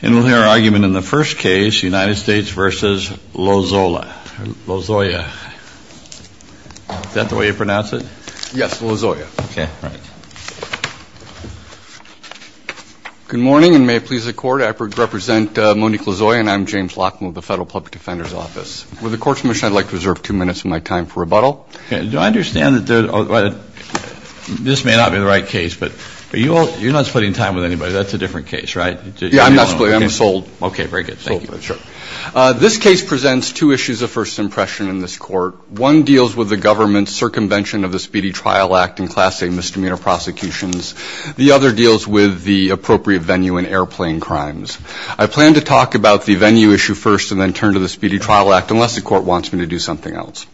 And we'll hear our argument in the first case, United States v. Lozoya. Is that the way you pronounce it? Yes, Lozoya. Okay, right. Good morning, and may it please the Court, I represent Monique Lozoya and I'm James Lockman with the Federal Public Defender's Office. With the Court's permission, I'd like to reserve two minutes of my time for rebuttal. Do I understand that this may not be the right case, but you're not splitting time with anybody. That's a different case, right? Yeah, I'm not splitting. I'm sold. Okay, very good. Thank you. Sure. This case presents two issues of first impression in this Court. One deals with the government's circumvention of the Speedy Trial Act and Class A misdemeanor prosecutions. The other deals with the appropriate venue in airplane crimes. I plan to talk about the venue issue first and then turn to the Speedy Trial Act unless the Court wants me to do something else.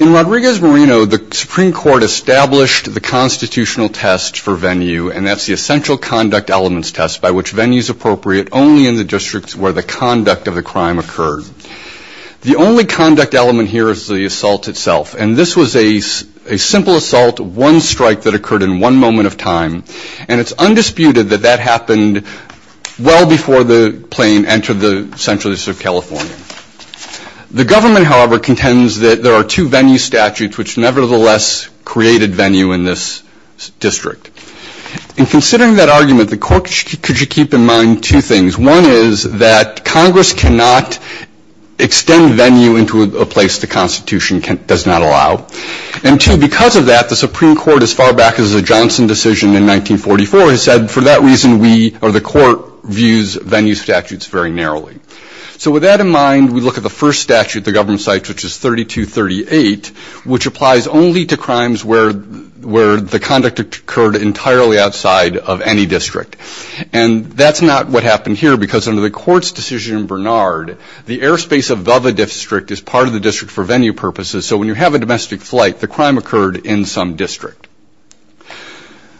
In Rodriguez-Marino, the Supreme Court established the constitutional test for venue, and that's the essential conduct elements test by which venue is appropriate only in the districts where the conduct of the crime occurred. The only conduct element here is the assault itself, and this was a simple assault, one strike that occurred in one moment of time, and it's undisputed that that happened well before the plane entered the central district of California. The government, however, contends that there are two venue statutes which nevertheless created venue in this district. In considering that argument, the Court should keep in mind two things. One is that Congress cannot extend venue into a place the Constitution does not allow, and two, because of that, the Supreme Court, as far back as the Johnson decision in 1944, has said for that reason we or the Court views venue statutes very narrowly. So with that in mind, we look at the first statute the government cites, which is 3238, which applies only to crimes where the conduct occurred entirely outside of any district, and that's not what happened here because under the Court's decision in Bernard, the airspace above a district is part of the district for venue purposes, so when you have a domestic flight, the crime occurred in some district.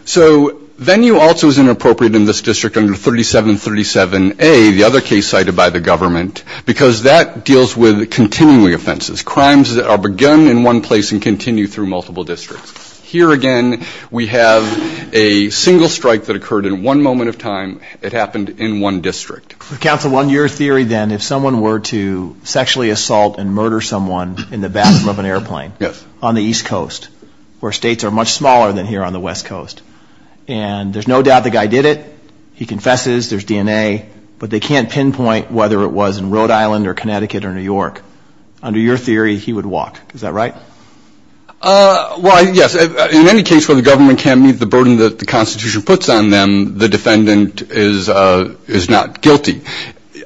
So venue also is inappropriate in this district under 3737A, the other case cited by the government, because that deals with continuing offenses, crimes that are begun in one place and continue through multiple districts. Here again we have a single strike that occurred in one moment of time. It happened in one district. Counsel, on your theory then, if someone were to sexually assault and murder someone in the bathroom of an airplane on the East Coast, where states are much smaller than here on the West Coast, and there's no doubt the guy did it, he confesses, there's DNA, but they can't pinpoint whether it was in Rhode Island or Connecticut or New York, under your theory he would walk. Is that right? Well, yes. In any case where the government can't meet the burden that the Constitution puts on them, the defendant is not guilty.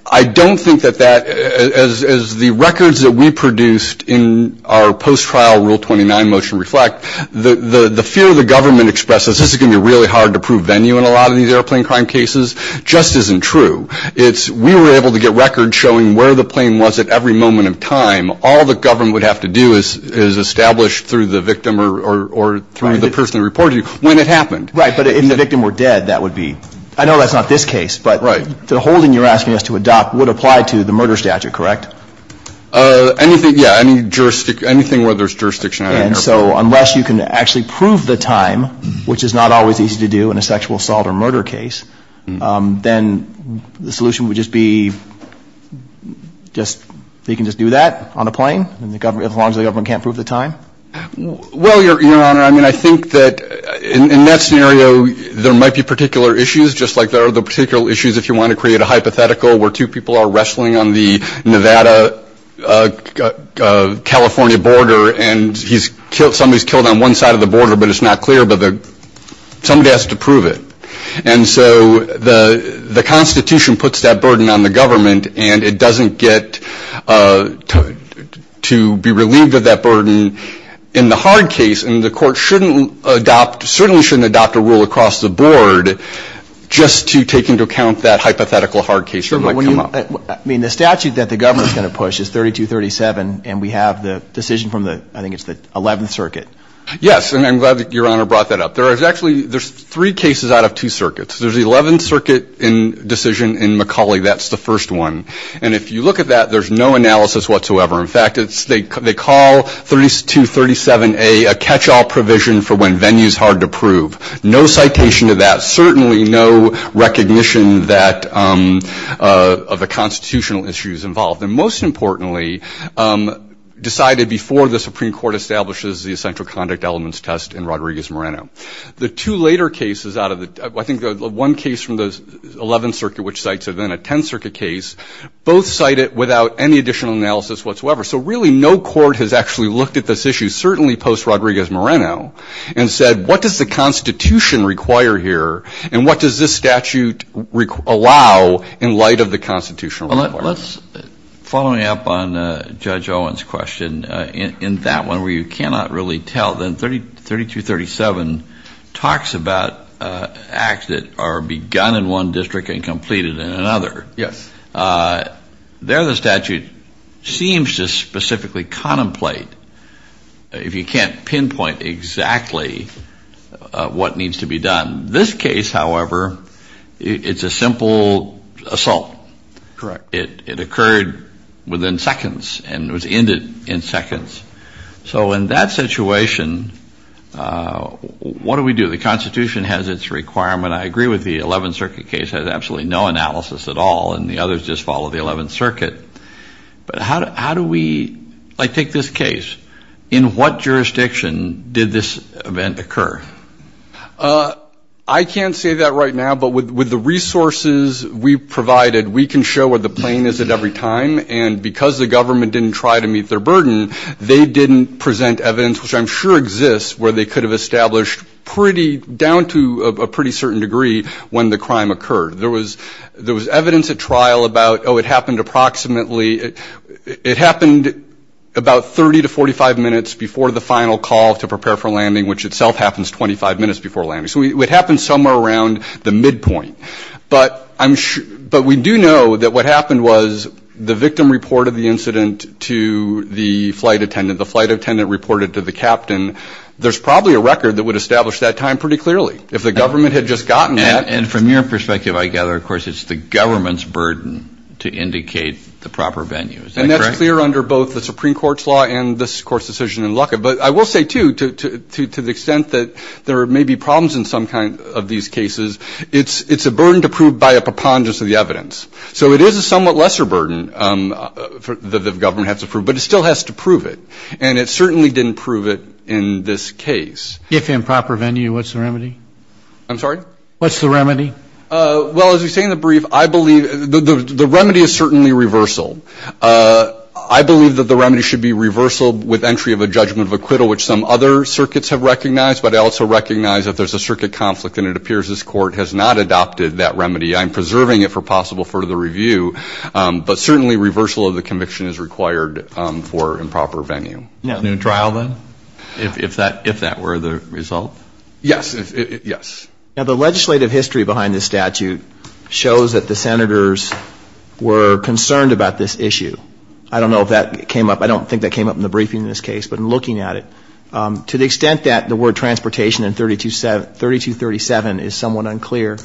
I don't think that that, as the records that we produced in our post-trial Rule 29 motion reflect, the fear the government expresses, this is going to be really hard to prove venue in a lot of these airplane crime cases, just isn't true. We were able to get records showing where the plane was at every moment of time. All the government would have to do is establish through the victim or through the person who reported it when it happened. Right, but if the victim were dead, that would be, I know that's not this case, but the holding you're asking us to adopt would apply to the murder statute, correct? Anything, yeah, any jurisdiction, anything where there's jurisdiction. And so unless you can actually prove the time, which is not always easy to do in a sexual assault or murder case, then the solution would just be just, they can just do that on a plane, as long as the government can't prove the time? Well, Your Honor, I mean, I think that in that scenario, there might be particular issues, just like there are the particular issues if you want to create a hypothetical where two people are wrestling on the Nevada-California border, and somebody's killed on one side of the border, but it's not clear, but somebody has to prove it. And so the Constitution puts that burden on the government, and it doesn't get to be relieved of that burden in the hard case, and the court shouldn't adopt, certainly shouldn't adopt a rule across the board, just to take into account that hypothetical hard case that might come up. I mean, the statute that the government's going to push is 3237, and we have the decision from the, I think it's the 11th Circuit. Yes, and I'm glad that Your Honor brought that up. There's actually, there's three cases out of two circuits. There's the 11th Circuit decision in McCauley, that's the first one, and if you look at that, there's no analysis whatsoever. In fact, they call 3237A a catch-all provision for when venue's hard to prove. No citation of that, certainly no recognition of the constitutional issues involved, and most importantly, decided before the Supreme Court establishes the essential conduct elements test in Rodriguez-Moreno. The two later cases out of the, I think the one case from the 11th Circuit, which cites it in a 10th Circuit case, both cite it without any additional analysis whatsoever. So really no court has actually looked at this issue, certainly post-Rodriguez-Moreno, and said, what does the Constitution require here, and what does this statute allow in light of the Constitution? Well, let's, following up on Judge Owen's question, and in that one where you cannot really tell, then 3237 talks about acts that are begun in one district and completed in another. Yes. There the statute seems to specifically contemplate, if you can't pinpoint exactly what needs to be done. This case, however, it's a simple assault. Correct. It occurred within seconds and was ended in seconds. So in that situation, what do we do? The Constitution has its requirement. I agree with the 11th Circuit case has absolutely no analysis at all, and the others just follow the 11th Circuit. But how do we, like, take this case. In what jurisdiction did this event occur? I can't say that right now, but with the resources we provided, we can show where the plane is at every time, and because the government didn't try to meet their burden, they didn't present evidence, which I'm sure exists, where they could have established pretty, down to a pretty certain degree, when the crime occurred. There was evidence at trial about, oh, it happened approximately, which itself happens 25 minutes before landing. So it happened somewhere around the midpoint. But we do know that what happened was the victim reported the incident to the flight attendant. The flight attendant reported to the captain. There's probably a record that would establish that time pretty clearly. If the government had just gotten that. And from your perspective, I gather, of course, it's the government's burden to indicate the proper venue. Is that correct? And that's clear under both the Supreme Court's law and this Court's decision in Luckett. But I will say, too, to the extent that there may be problems in some kind of these cases, it's a burden to prove by a preponderance of the evidence. So it is a somewhat lesser burden that the government has to prove, but it still has to prove it. And it certainly didn't prove it in this case. If in proper venue, what's the remedy? I'm sorry? What's the remedy? Well, as we say in the brief, I believe the remedy is certainly reversal. I believe that the remedy should be reversal with entry of a judgment of acquittal, which some other circuits have recognized. But I also recognize that there's a circuit conflict, and it appears this Court has not adopted that remedy. I'm preserving it for possible further review. But certainly reversal of the conviction is required for improper venue. No. No trial, then, if that were the result? Yes. Yes. Now, the legislative history behind this statute shows that the Senators were concerned about this issue. I don't know if that came up. I don't think that came up in the briefing in this case. But in looking at it, to the extent that the word transportation in 3237 is somewhat unclear,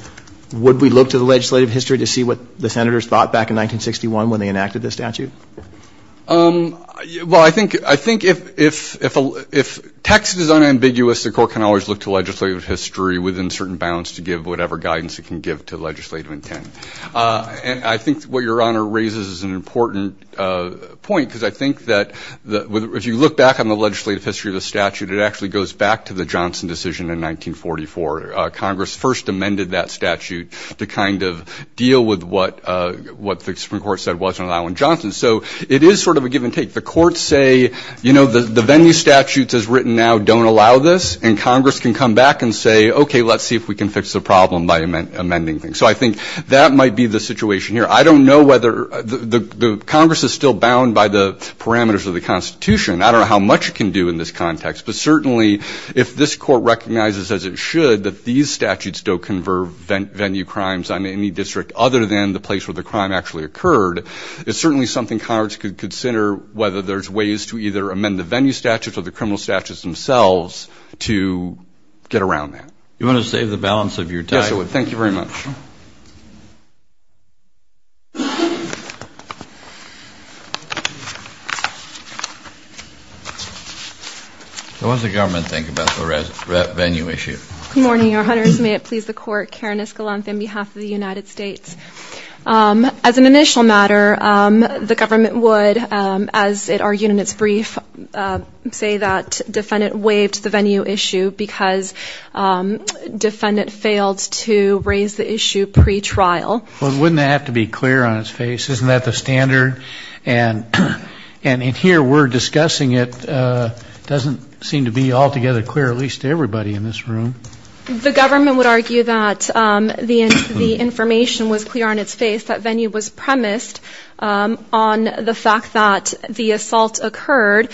would we look to the legislative history to see what the Senators thought back in 1961 when they enacted this statute? Well, I think if text is unambiguous, the Court can always look to legislative history within certain bounds to give whatever guidance it can give to legislative intent. And I think what Your Honor raises is an important point, because I think that if you look back on the legislative history of the statute, it actually goes back to the Johnson decision in 1944. Congress first amended that statute to kind of deal with what the Supreme Court said wasn't allowing Johnson. So it is sort of a give and take. The courts say, you know, the venue statutes as written now don't allow this, and Congress can come back and say, okay, let's see if we can fix the problem by amending things. So I think that might be the situation here. I don't know whether the Congress is still bound by the parameters of the Constitution. I don't know how much it can do in this context. But certainly if this Court recognizes as it should that these statutes don't convert venue crimes on any district other than the place where the crime actually occurred, it's certainly something Congress could consider whether there's ways to either amend the venue statutes or the criminal statutes themselves to get around that. You want to save the balance of your time? Yes, I would. Thank you very much. What does the government think about the venue issue? Good morning, Your Honors. May it please the Court, Karen Escalante on behalf of the United States. As an initial matter, the government would, as it argued in its brief, say that defendant waived the venue issue because defendant failed to raise the issue pretrial. Well, wouldn't that have to be clear on its face? Isn't that the standard? And in here we're discussing it. It doesn't seem to be altogether clear, at least to everybody in this room. The government would argue that the information was clear on its face, that venue was premised on the fact that the assault occurred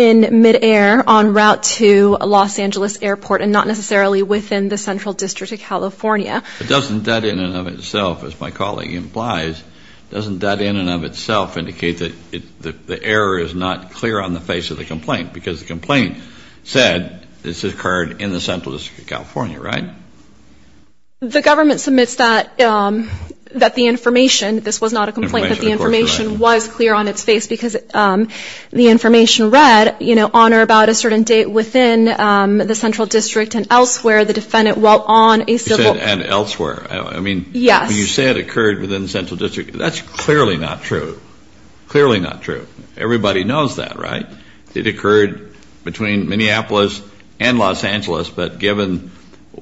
in midair en route to Los Angeles Airport and not necessarily within the Central District of California. Doesn't that in and of itself, as my colleague implies, doesn't that in and of itself indicate that the error is not clear on the face of the complaint? Because the complaint said this occurred in the Central District of California, right? The government submits that the information, this was not a complaint, that the information was clear on its face because the information read, you know, on or about a certain date within the Central District and elsewhere the defendant while on a civil. And elsewhere. Yes. I mean, when you say it occurred within the Central District, that's clearly not true. Clearly not true. Everybody knows that, right? It occurred between Minneapolis and Los Angeles, but given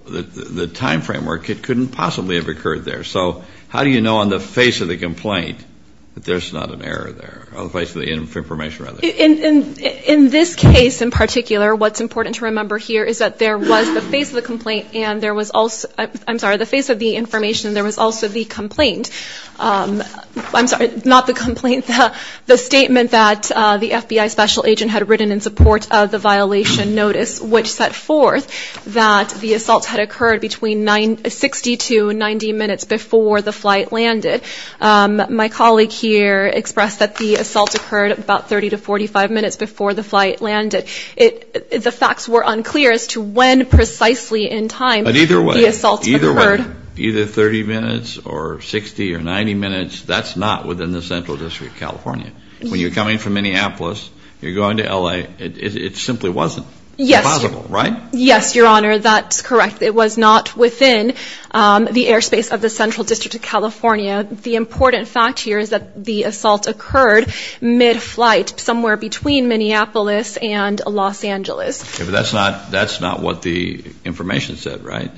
the time framework, it couldn't possibly have occurred there. So how do you know on the face of the complaint that there's not an error there, on the face of the information rather? In this case in particular, what's important to remember here is that there was the face of the complaint and there was also, I'm sorry, the face of the information and there was also the complaint. I'm sorry, not the complaint. The statement that the FBI special agent had written in support of the violation notice, which set forth that the assault had occurred between 60 to 90 minutes before the flight landed. My colleague here expressed that the assault occurred about 30 to 45 minutes before the flight landed. The facts were unclear as to when precisely in time the assault occurred. But either way, either 30 minutes or 60 or 90 minutes, that's not within the Central District. California. When you're coming from Minneapolis, you're going to L.A., it simply wasn't possible, right? Yes, Your Honor, that's correct. It was not within the airspace of the Central District of California. The important fact here is that the assault occurred mid-flight, somewhere between Minneapolis and Los Angeles. But that's not what the information said, right?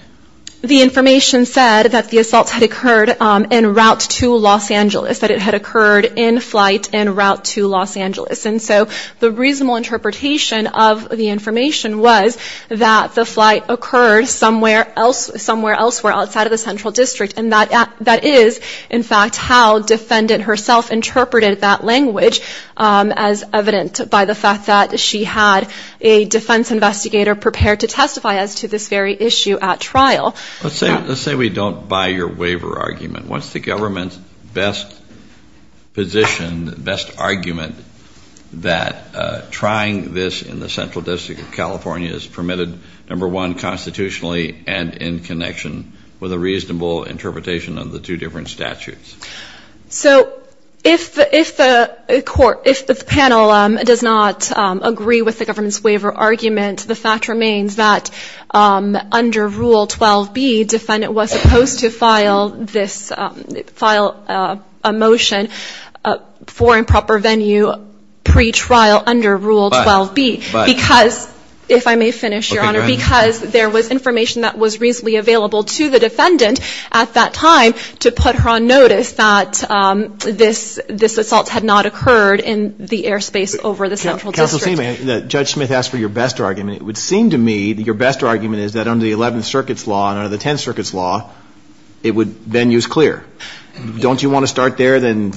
The information said that the assault had occurred en route to Los Angeles, that it had occurred in flight en route to Los Angeles. And so the reasonable interpretation of the information was that the flight occurred somewhere else, somewhere elsewhere outside of the Central District. And that is, in fact, how defendant herself interpreted that language, as evident by the fact that she had a defense investigator prepared to testify as to this very issue at trial. Let's say we don't buy your waiver argument. What's the government's best position, best argument, that trying this in the Central District of California is permitted, number one, constitutionally and in connection with a reasonable interpretation of the two different statutes? So if the panel does not agree with the government's waiver argument, the fact remains that under Rule 12b, defendant was supposed to file this, file a motion for improper venue pretrial under Rule 12b. But. Because, if I may finish, Your Honor. Okay, go ahead. Because there was information that was reasonably available to the defendant at that time to put her on notice that this assault had not occurred in the airspace over the Central District. If I may, Judge Smith asked for your best argument. It would seem to me that your best argument is that under the Eleventh Circuit's law and under the Tenth Circuit's law, it would then use clear. Don't you want to start there and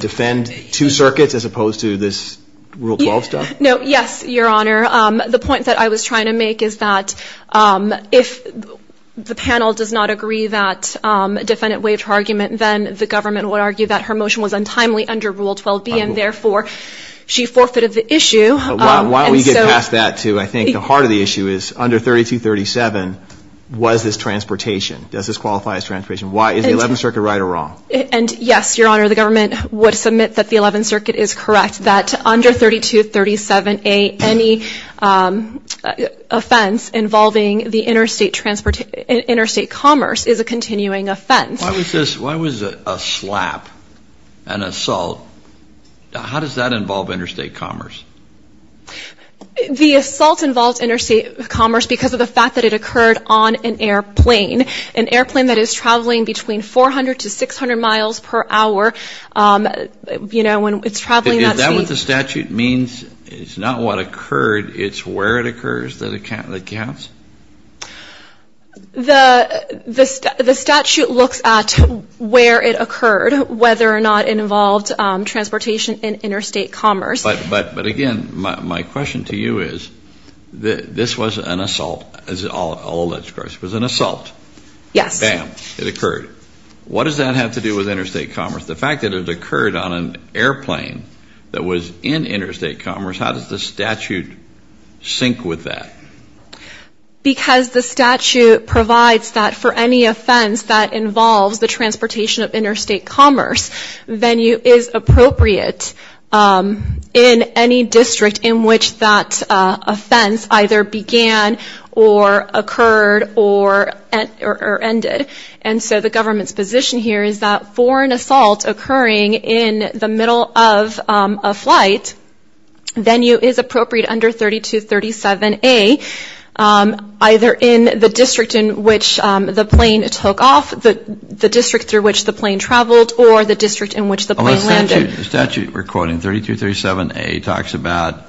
defend two circuits as opposed to this Rule 12 stuff? No, yes, Your Honor. The point that I was trying to make is that if the panel does not agree that defendant waived her argument, then the government would argue that her motion was untimely under Rule 12b, and, therefore, she forfeited the issue. Why don't we get past that, too? I think the heart of the issue is under 3237, was this transportation? Does this qualify as transportation? Is the Eleventh Circuit right or wrong? And, yes, Your Honor, the government would submit that the Eleventh Circuit is correct, that under 3237a, any offense involving the interstate commerce is a continuing offense. Why was a slap, an assault, how does that involve interstate commerce? The assault involved interstate commerce because of the fact that it occurred on an airplane, an airplane that is traveling between 400 to 600 miles per hour. You know, when it's traveling that speed. Is that what the statute means? It's not what occurred, it's where it occurs that counts? The statute looks at where it occurred, whether or not it involved transportation in interstate commerce. But, again, my question to you is, this was an assault, as all alleged crimes. It was an assault. Yes. Bam. It occurred. What does that have to do with interstate commerce? The fact that it occurred on an airplane that was in interstate commerce, how does the statute sync with that? Because the statute provides that for any offense that involves the transportation of interstate commerce, venue is appropriate in any district in which that offense either began or occurred or ended. And so the government's position here is that for an assault occurring in the middle of a flight, venue is appropriate under 3237A, either in the district in which the plane took off, the district through which the plane traveled, or the district in which the plane landed. The statute we're quoting, 3237A, talks about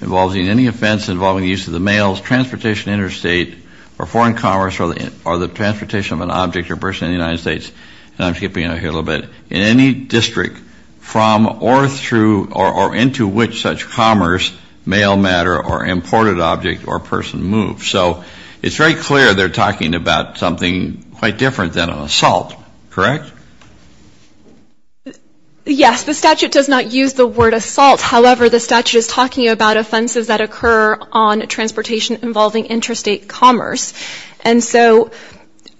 involving any offense involving the use of the mail, that involves transportation interstate or foreign commerce or the transportation of an object or person in the United States, and I'm skipping it here a little bit, in any district from or through or into which such commerce, mail matter or imported object or person moved. So it's very clear they're talking about something quite different than an assault, correct? Yes. The statute does not use the word assault. However, the statute is talking about offenses that occur on transportation involving interstate commerce. And so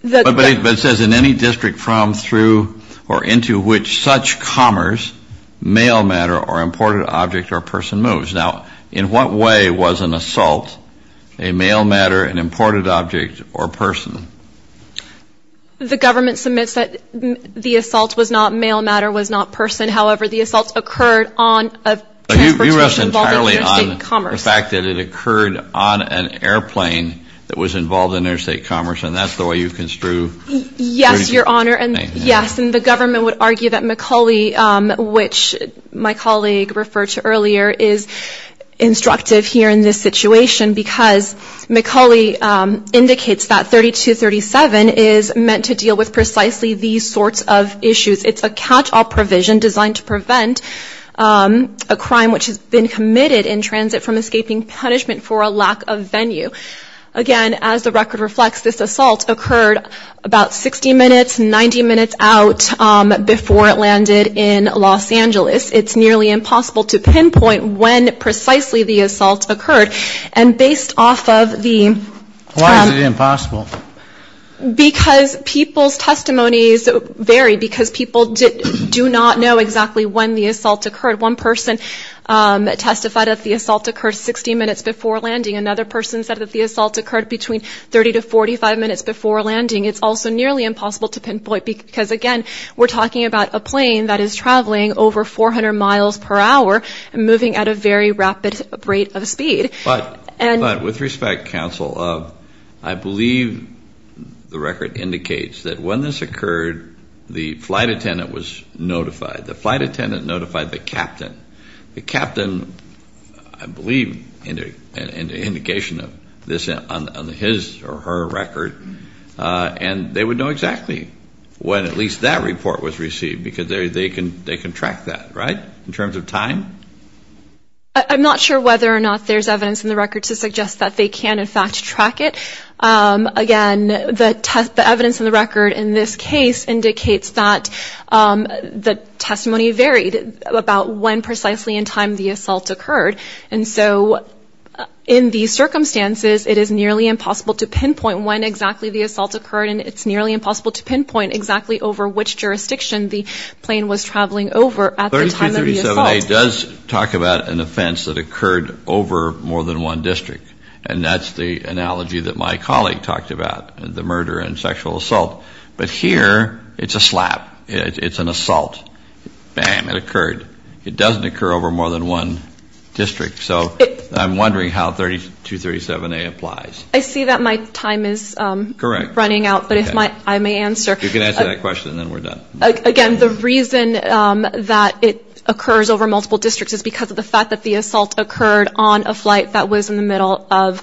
the ‑‑ But it says in any district from, through or into which such commerce, mail matter or imported object or person moves. Now, in what way was an assault a mail matter, an imported object or person? The government submits that the assault was not mail matter, was not person. However, the assault occurred on a transportation involved in interstate commerce. So you rest entirely on the fact that it occurred on an airplane that was involved in interstate commerce, and that's the way you construe 3237A? Yes, Your Honor, and yes. And the government would argue that McCauley, which my colleague referred to earlier, is instructive here in this situation because McCauley indicates that 3237 is meant to deal with precisely these sorts of issues. It's a catch‑all provision designed to prevent a crime which has been committed in transit from escaping punishment for a lack of venue. Again, as the record reflects, this assault occurred about 60 minutes, 90 minutes out before it landed in Los Angeles. It's nearly impossible to pinpoint when precisely the assault occurred. And based off of the ‑‑ Why is it impossible? Because people's testimonies vary because people do not know exactly when the assault occurred. One person testified that the assault occurred 60 minutes before landing. Another person said that the assault occurred between 30 to 45 minutes before landing. It's also nearly impossible to pinpoint because, again, we're talking about a plane that is traveling over 400 miles per hour But with respect, counsel, I believe the record indicates that when this occurred, the flight attendant was notified. The flight attendant notified the captain. The captain, I believe, in the indication of this on his or her record, and they would know exactly when at least that report was received because they can track that, right, in terms of time? I'm not sure whether or not there's evidence in the record to suggest that they can, in fact, track it. Again, the evidence in the record in this case indicates that the testimony varied about when precisely in time the assault occurred. And so in these circumstances, it is nearly impossible to pinpoint when exactly the assault occurred, and it's nearly impossible to pinpoint exactly over which jurisdiction the plane was traveling over at the time of the assault. 3237A does talk about an offense that occurred over more than one district, and that's the analogy that my colleague talked about, the murder and sexual assault. But here, it's a slap. It's an assault. Bam, it occurred. It doesn't occur over more than one district. So I'm wondering how 3237A applies. I see that my time is running out, but if I may answer. You can answer that question, and then we're done. Again, the reason that it occurs over multiple districts is because of the fact that the assault occurred on a flight that was in the middle of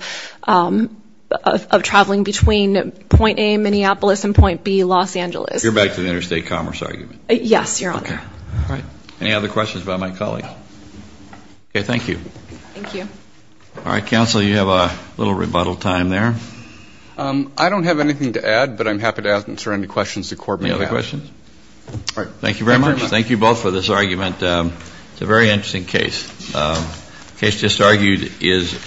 traveling between Point A, Minneapolis, and Point B, Los Angeles. You're back to the interstate commerce argument. Yes, Your Honor. All right. Any other questions about my colleague? Okay, thank you. Thank you. All right, Counsel, you have a little rebuttal time there. I don't have anything to add, but I'm happy to answer any questions the Court may have. Any other questions? All right. Thank you very much. Thank you both for this argument. It's a very interesting case. The case just argued is